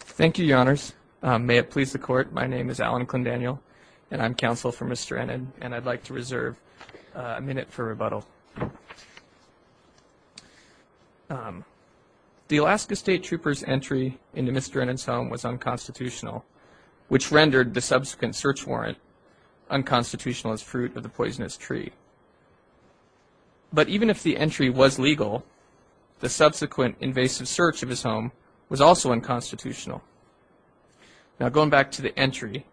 Thank you, your honors. May it please the court, my name is Alan Clendaniel and I'm counsel for Mr. Ennen and I'd like to reserve a minute for rebuttal. The Alaska State Trooper's entry into Mr. Ennen's home was unconstitutional, which rendered the subsequent search warrant unconstitutional as fruit of the poisonous tree. But even if the entry was legal, the subsequent invasive search of his home was also unconstitutional. Now going back to the entry,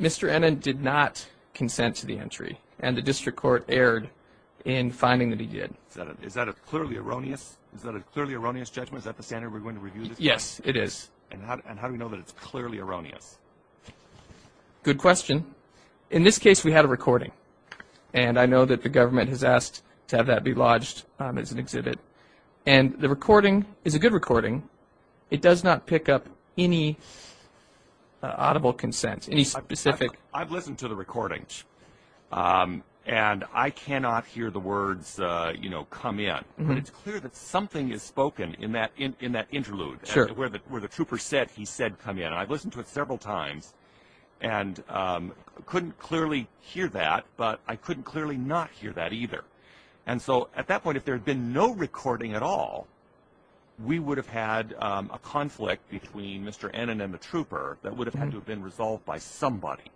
Mr. Ennen did not consent to the entry and the district court erred in finding that he did. Is that a clearly erroneous judgment? Is that the standard we're going to review? Yes, it is. And how do we know that it's clearly erroneous? Good question. In this case, we had a recording and I know that the government has asked to have that be lodged as an exhibit. And the recording is a good recording. It does not pick up any audible consent, any specific... I've listened to the recordings and I cannot hear the words, you know, come in. But it's clear that something is spoken in that interlude where the trooper said he said come in. And I've listened to it several times and couldn't clearly hear that, but I couldn't clearly not hear that either. And so at that point, if there had been no recording at all, we would have had a conflict between Mr. Ennen and the trooper that would have had to have been resolved by somebody.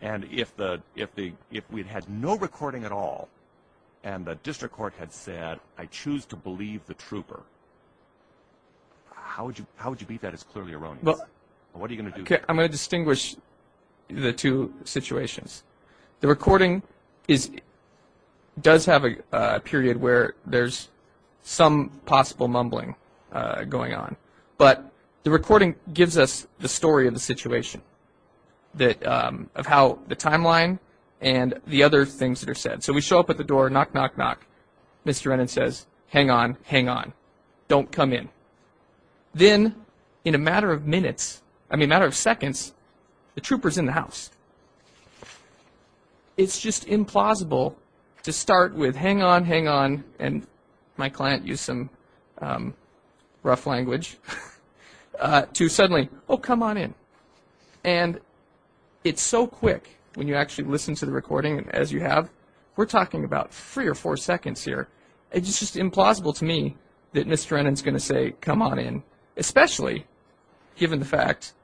And if we'd had no recording at all and the district court had said I choose to believe the trooper, how would you beat that as clearly erroneous? What are you going to do? I'm going to distinguish the two situations. The recording does have a period where there's some possible mumbling going on. But the recording gives us the story of the situation, of how the timeline and the other things that are said. So we show up at the door, knock, knock, knock. Mr. Ennen says hang on, hang on, don't come in. Then in a matter of minutes, I mean a matter of seconds, the trooper's in the house. It's just implausible to start with hang on, hang on, and my client used some rough language, to suddenly, oh, come on in. And it's so quick when you actually listen to the recording as you have. We're talking about three or four seconds here. It's just implausible to me that Mr. Ennen is going to say come on in, especially given the fact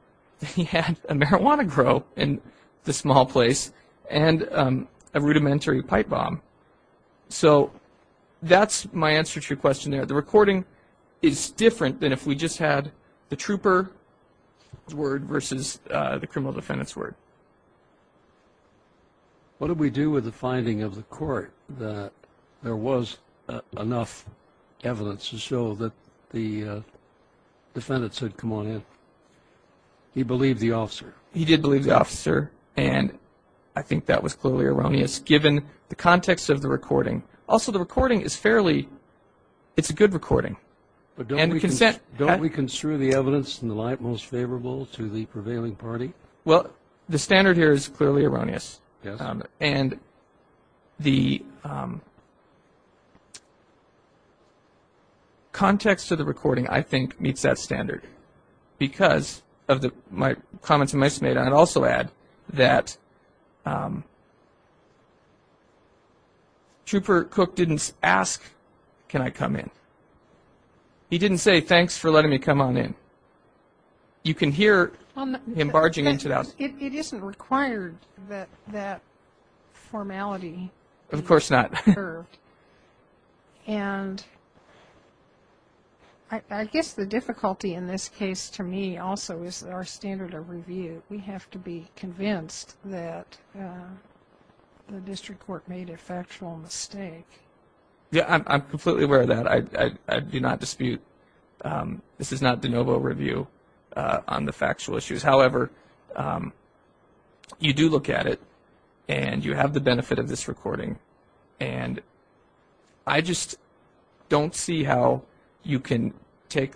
that he had a marijuana grow in the small place and a rudimentary pipe bomb. So that's my answer to your question there. The recording is different than if we just had the trooper's word versus the criminal defendant's word. What did we do with the finding of the court that there was enough evidence to show that the defendant said come on in? He believed the officer. He did believe the officer, and I think that was clearly erroneous given the context of the recording. Also, the recording is fairly, it's a good recording. But don't we construe the evidence in the light most favorable to the prevailing party? Well, the standard here is clearly erroneous. And the context of the recording, I think, meets that standard. Because of my comments to my smate, I'd also add that Trooper Cook didn't ask can I come in. He didn't say thanks for letting me come on in. You can hear him barging into that. It isn't required that that formality be observed. Of course not. And I guess the difficulty in this case to me also is our standard of review. We have to be convinced that the district court made a factual mistake. Yeah, I'm completely aware of that. I do not dispute. This is not de novo review on the factual issues. However, you do look at it, and you have the benefit of this recording. And I just don't see how you can take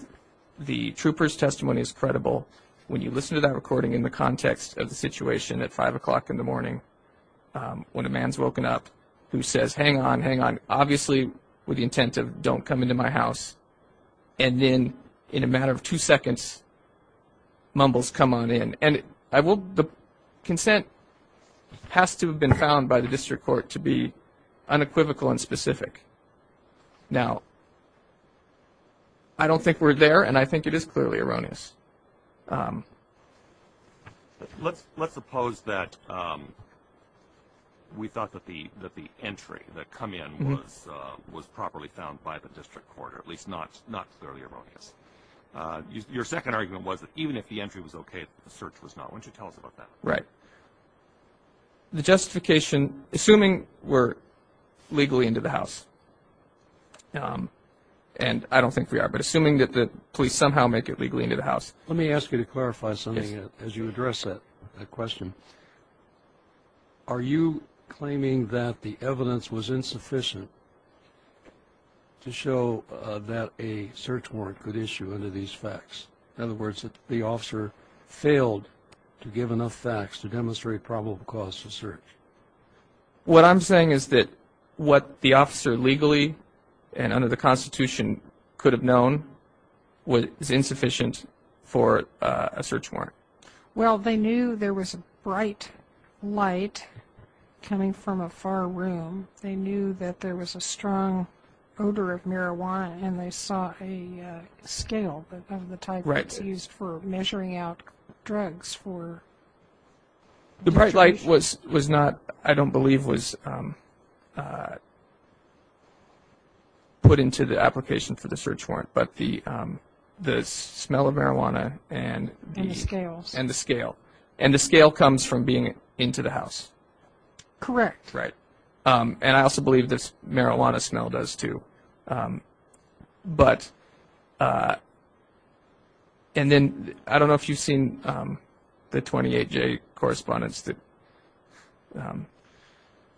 the trooper's testimony as credible when you listen to that recording in the context of the situation at 5 o'clock in the morning when a man's woken up who says, hang on, hang on, obviously with the intent of don't come into my house, and then in a matter of two seconds mumbles come on in. And the consent has to have been found by the district court to be unequivocal and specific. Now, I don't think we're there, and I think it is clearly erroneous. Let's suppose that we thought that the entry that come in was properly found by the district court, or at least not clearly erroneous. Your second argument was that even if the entry was okay, the search was not. Why don't you tell us about that? Right. The justification, assuming we're legally into the house, and I don't think we are, but assuming that the police somehow make it legally into the house. Let me ask you to clarify something as you address that question. Are you claiming that the evidence was insufficient to show that a search warrant could issue under these facts? In other words, that the officer failed to give enough facts to demonstrate probable cause to search? What I'm saying is that what the officer legally and under the Constitution could have known was insufficient for a search warrant. Well, they knew there was a bright light coming from a far room. They knew that there was a strong odor of marijuana, and they saw a scale of the type that's used for measuring out drugs for search. The bright light was not, I don't believe, was put into the application for the search warrant, but the smell of marijuana and the scale. And the scale comes from being into the house. Correct. Right. And I also believe the marijuana smell does too. But, and then I don't know if you've seen the 28-J correspondence that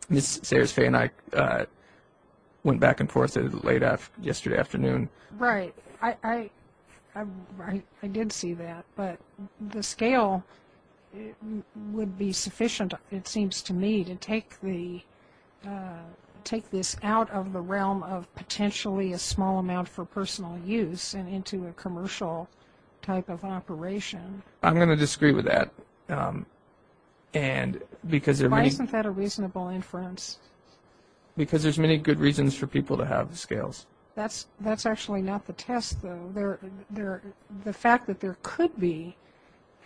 Ms. Sayers-Fey and I went back and forth late yesterday afternoon. Right. I did see that, but the scale would be sufficient, it seems to me, to take this out of the realm of potentially a small amount for personal use and into a commercial type of operation. I'm going to disagree with that. Why isn't that a reasonable inference? Because there's many good reasons for people to have scales. That's actually not the test, though. The fact that there could be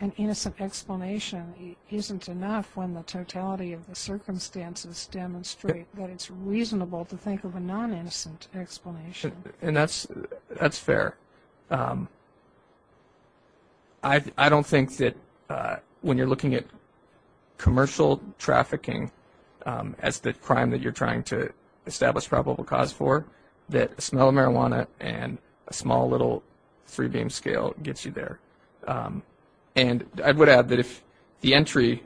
an innocent explanation isn't enough when the totality of the circumstances demonstrate that it's reasonable to think of a non-innocent explanation. And that's fair. I don't think that when you're looking at commercial trafficking as the crime that you're trying to establish probable cause for, that a smell of marijuana and a small little three-beam scale gets you there. And I would add that if the entry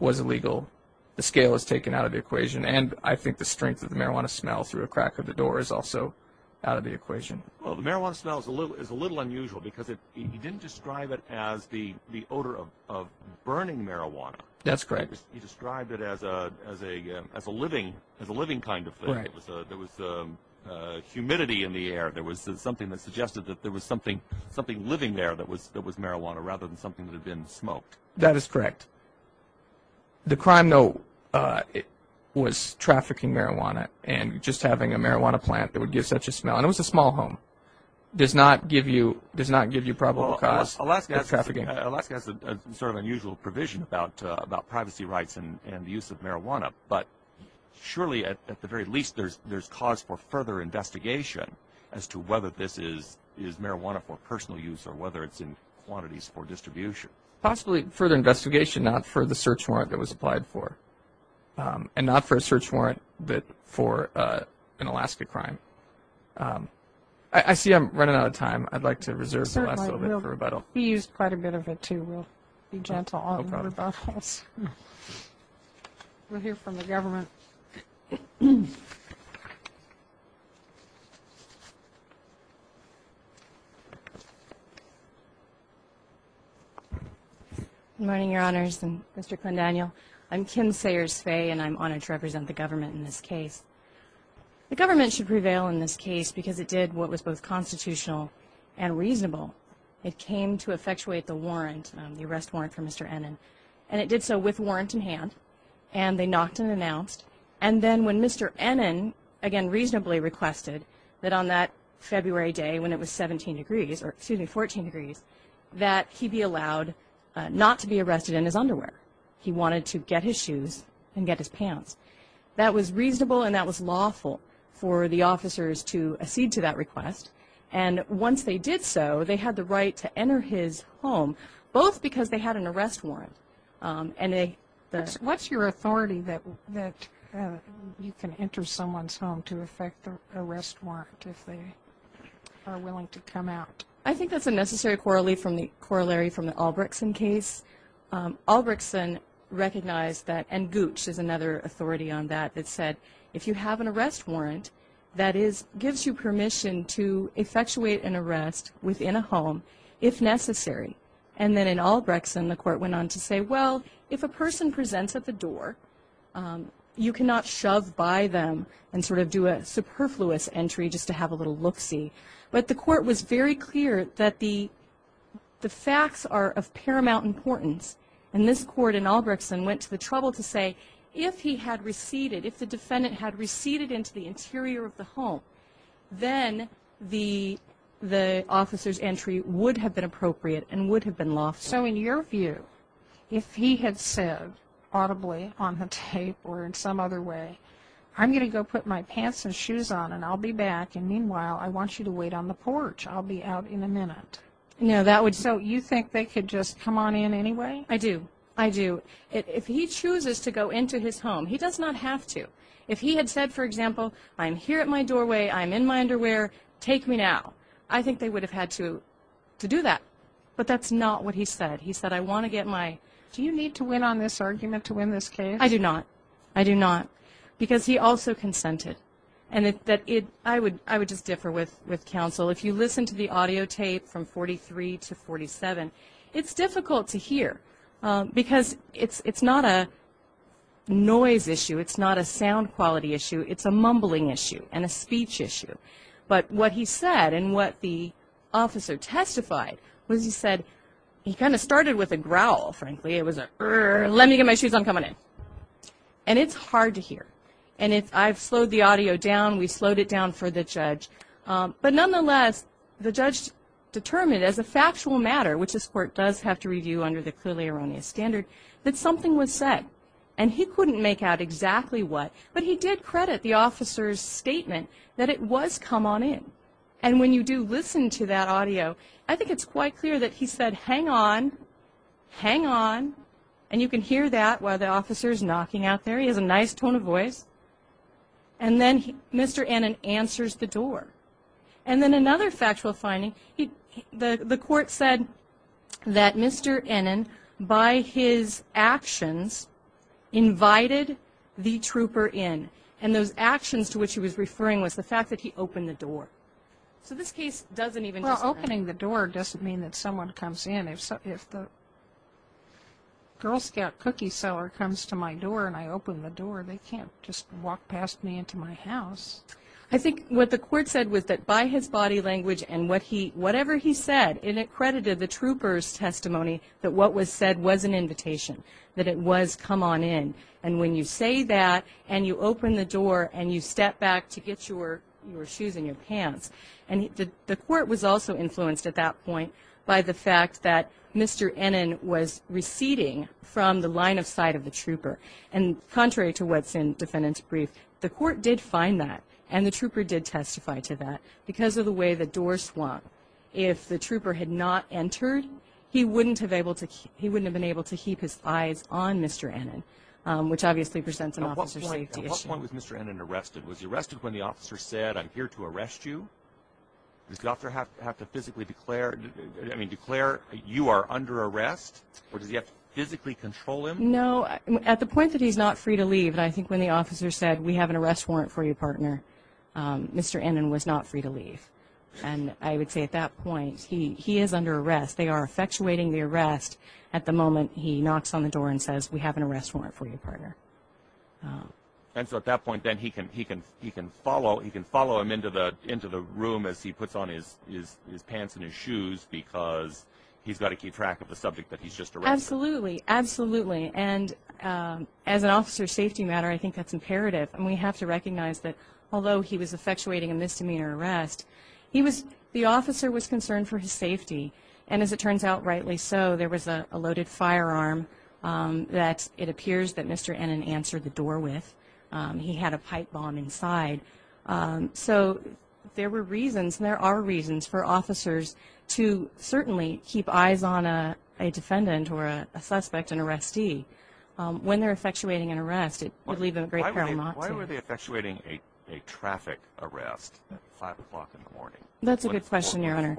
was illegal, the scale is taken out of the equation. And I think the strength of the marijuana smell through a crack of the door is also out of the equation. Well, the marijuana smell is a little unusual because you didn't describe it as the odor of burning marijuana. You described it as a living kind of thing. There was humidity in the air. There was something that suggested that there was something living there that was marijuana rather than something that had been smoked. That is correct. The crime note was trafficking marijuana and just having a marijuana plant that would give such a smell. And it was a small home. It does not give you probable cause for trafficking. Alaska has a sort of unusual provision about privacy rights and the use of marijuana. But surely, at the very least, there's cause for further investigation as to whether this is marijuana for personal use or whether it's in quantities for distribution. Possibly further investigation, not for the search warrant that was applied for. And not for a search warrant but for an Alaska crime. I see I'm running out of time. I'd like to reserve the last little bit for rebuttal. You used quite a bit of it, too. We'll be gentle on rebuttals. We'll hear from the government. Good morning, Your Honors and Mr. Clendaniel. I'm Kim Sayers-Faye, and I'm honored to represent the government in this case. The government should prevail in this case because it did what was both constitutional and reasonable. It came to effectuate the warrant, the arrest warrant for Mr. Ennin, and it did so with warrant in hand, and they knocked and announced. And then when Mr. Ennin, again, reasonably requested that on that February day when it was 17 degrees, or excuse me, 14 degrees, that he be allowed not to be arrested in his underwear. He wanted to get his shoes and get his pants. That was reasonable and that was lawful for the officers to accede to that request. And once they did so, they had the right to enter his home, both because they had an arrest warrant. What's your authority that you can enter someone's home to effect the arrest warrant if they are willing to come out? I think that's a necessary corollary from the Albregtson case. Albregtson recognized that, and Gooch is another authority on that, that said if you have an arrest warrant, that gives you permission to effectuate an arrest within a home if necessary. And then in Albregtson, the court went on to say, well, if a person presents at the door, you cannot shove by them and sort of do a superfluous entry just to have a little look-see. But the court was very clear that the facts are of paramount importance. And this court in Albregtson went to the trouble to say, if he had receded, if the defendant had receded into the interior of the home, then the officer's entry would have been appropriate and would have been lawful. So in your view, if he had said audibly on the tape or in some other way, I'm going to go put my pants and shoes on, and I'll be back. And meanwhile, I want you to wait on the porch. I'll be out in a minute. So you think they could just come on in anyway? I do. I do. But if he chooses to go into his home, he does not have to. If he had said, for example, I'm here at my doorway, I'm in my underwear, take me now, I think they would have had to do that. But that's not what he said. He said, I want to get my... Do you need to win on this argument to win this case? I do not. I do not. Because he also consented. And I would just differ with counsel. If you listen to the audio tape from 43 to 47, it's difficult to hear because it's not a noise issue. It's not a sound quality issue. It's a mumbling issue and a speech issue. But what he said and what the officer testified was he said, he kind of started with a growl, frankly. It was a, let me get my shoes on, come on in. And it's hard to hear. And I've slowed the audio down. We slowed it down for the judge. But nonetheless, the judge determined as a factual matter, which this court does have to review under the clearly erroneous standard, that something was said. And he couldn't make out exactly what. But he did credit the officer's statement that it was come on in. And when you do listen to that audio, I think it's quite clear that he said, hang on, hang on. And you can hear that while the officer is knocking out there. He has a nice tone of voice. And then Mr. Annan answers the door. And then another factual finding, the court said that Mr. Annan, by his actions, invited the trooper in. And those actions to which he was referring was the fact that he opened the door. So this case doesn't even just mean. Well, opening the door doesn't mean that someone comes in. If the Girl Scout cookie seller comes to my door and I open the door, they can't just walk past me into my house. I think what the court said was that by his body language and whatever he said it accredited the trooper's testimony that what was said was an invitation, that it was come on in. And when you say that and you open the door and you step back to get your shoes and your pants. And the court was also influenced at that point by the fact that Mr. Annan was receding from the line of sight of the trooper. And contrary to what's in defendant's brief, the court did find that and the trooper did testify to that. Because of the way the door swung, if the trooper had not entered, he wouldn't have been able to keep his eyes on Mr. Annan, which obviously presents an officer's safety issue. At what point was Mr. Annan arrested? Was he arrested when the officer said, I'm here to arrest you? Does the officer have to physically declare you are under arrest? Or does he have to physically control him? No, at the point that he's not free to leave, I think when the officer said, we have an arrest warrant for you, partner, Mr. Annan was not free to leave. And I would say at that point he is under arrest. They are effectuating the arrest at the moment he knocks on the door and says, we have an arrest warrant for you, partner. And so at that point then he can follow him into the room as he puts on his pants and his shoes because he's got to keep track of the subject that he's just arrested. Absolutely, absolutely. And as an officer's safety matter, I think that's imperative. And we have to recognize that although he was effectuating a misdemeanor arrest, the officer was concerned for his safety. And as it turns out, rightly so. There was a loaded firearm that it appears that Mr. Annan answered the door with. He had a pipe bomb inside. So there were reasons, and there are reasons, for officers to certainly keep eyes on a defendant or a suspect, an arrestee. When they're effectuating an arrest, it would leave a great paramount to them. Why were they effectuating a traffic arrest at 5 o'clock in the morning? That's a good question, Your Honor.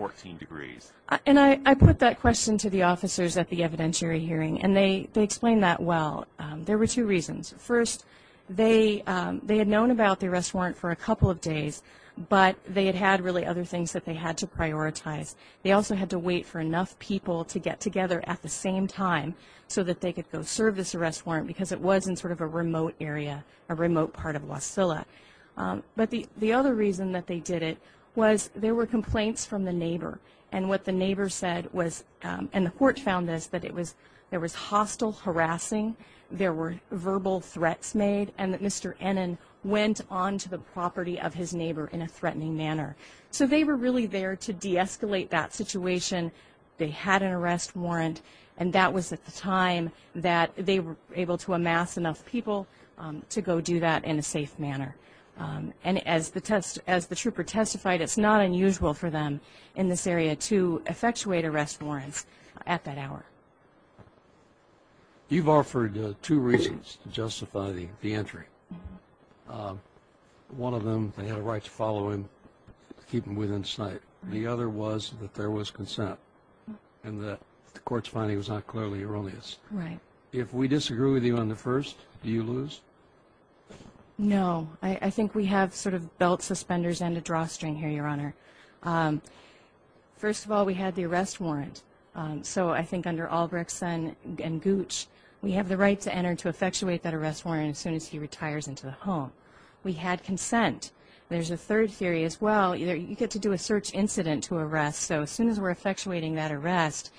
And I put that question to the officers at the evidentiary hearing, and they explained that well. There were two reasons. First, they had known about the arrest warrant for a couple of days, but they had had really other things that they had to prioritize. They also had to wait for enough people to get together at the same time so that they could go serve this arrest warrant because it was in sort of a remote area, a remote part of Wasilla. But the other reason that they did it was there were complaints from the neighbor, and what the neighbor said was, and the court found this, that there was hostile harassing, there were verbal threats made, and that Mr. Ennin went onto the property of his neighbor in a threatening manner. So they were really there to de-escalate that situation. They had an arrest warrant, and that was at the time that they were able to amass enough people to go do that in a safe manner. And as the trooper testified, it's not unusual for them in this area to effectuate arrest warrants at that hour. You've offered two reasons to justify the entry. One of them, they had a right to follow him, to keep him within sight. The other was that there was consent, and the court's finding was not clearly erroneous. Right. If we disagree with you on the first, do you lose? No. I think we have sort of belt suspenders and a drawstring here, Your Honor. First of all, we had the arrest warrant, so I think under Albrechtson and Gooch, we have the right to enter to effectuate that arrest warrant as soon as he retires into the home. We had consent. There's a third theory as well. You get to do a search incident to arrest, so as soon as we're effectuating that arrest,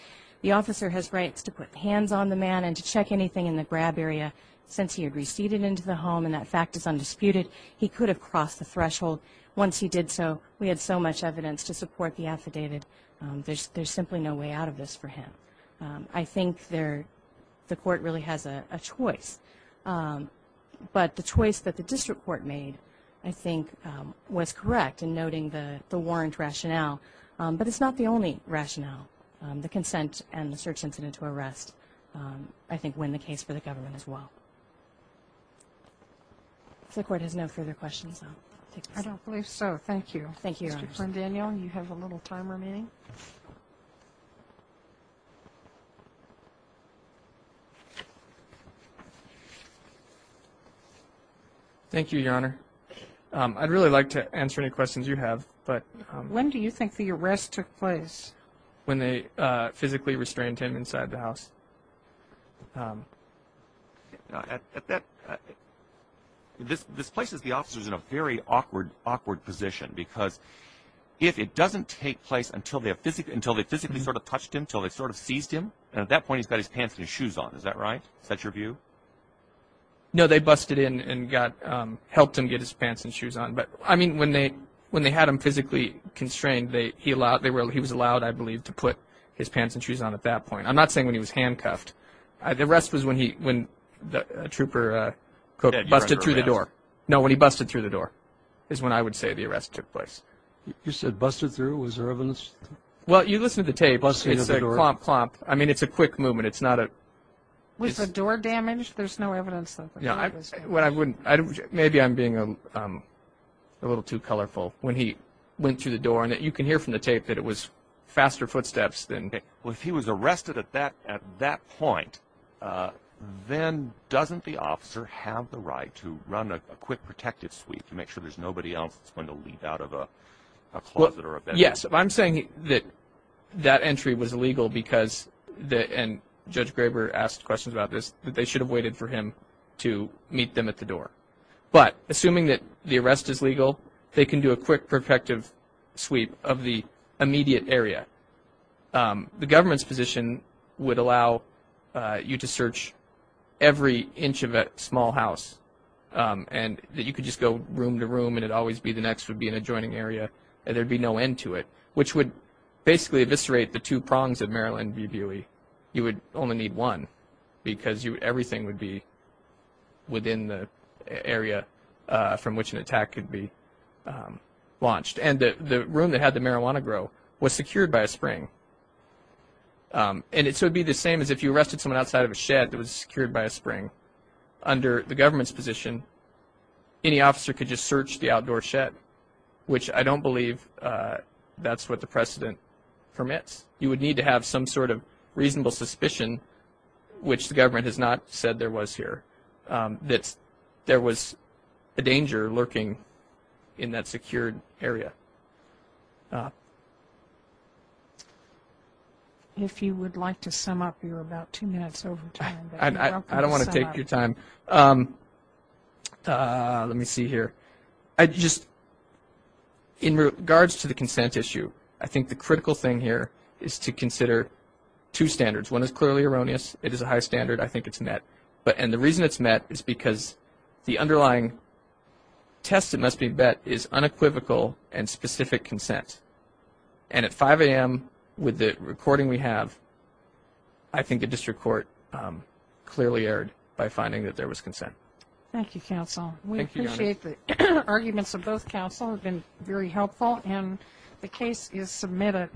the officer has rights to put hands on the man and to check anything in the grab area. Since he had receded into the home and that fact is undisputed, he could have crossed the threshold. Once he did so, we had so much evidence to support the affidavit. There's simply no way out of this for him. I think the court really has a choice, but the choice that the district court made I think was correct in noting the warrant rationale, but it's not the only rationale. The consent and the search incident to arrest I think win the case for the government as well. If the court has no further questions, I'll take this. Thank you. Thank you, Your Honor. Mr. Plandanio, you have a little time remaining. Thank you, Your Honor. I'd really like to answer any questions you have. When do you think the arrest took place? This places the officers in a very awkward position because if it doesn't take place until they physically sort of touched him, until they sort of seized him, at that point he's got his pants and his shoes on. Is that right? Is that your view? No, they busted in and helped him get his pants and shoes on. When they had him physically constrained, he was allowed I believe to put his pants and shoes on at that point. I'm not saying when he was handcuffed. The arrest was when a trooper busted through the door. No, when he busted through the door is when I would say the arrest took place. You said busted through? Was there evidence? Well, you listen to the tape. Plump, plump. I mean, it's a quick movement. Was the door damaged? There's no evidence of it. Maybe I'm being a little too colorful. When he went through the door, you can hear from the tape that it was faster footsteps. Okay. Well, if he was arrested at that point, then doesn't the officer have the right to run a quick protective sweep to make sure there's nobody else that's going to leave out of a closet or a bedroom? Yes. I'm saying that that entry was legal because, and Judge Graber asked questions about this, that they should have waited for him to meet them at the door. But assuming that the arrest is legal, they can do a quick protective sweep of the immediate area. The government's position would allow you to search every inch of a small house and that you could just go room to room and it would always be the next, would be an adjoining area, and there would be no end to it, which would basically eviscerate the two prongs of Maryland v. Buey. You would only need one because everything would be within the area from which an attack could be launched. And the room that had the marijuana grow was secured by a spring. And it would be the same as if you arrested someone outside of a shed that was secured by a spring. Under the government's position, any officer could just search the outdoor shed, which I don't believe that's what the precedent permits. You would need to have some sort of reasonable suspicion, which the government has not said there was here, that there was a danger lurking in that secured area. If you would like to sum up, you're about two minutes over time. I don't want to take your time. Let me see here. Just in regards to the consent issue, I think the critical thing here is to consider two standards. One is clearly erroneous. It is a high standard. I think it's net. And the reason it's net is because the underlying test, it must be bet, is unequivocal and specific consent. And at 5 a.m. with the recording we have, I think the district court clearly erred by finding that there was consent. Thank you, counsel. We appreciate the arguments of both counsel. They've been very helpful. And the case is submitted.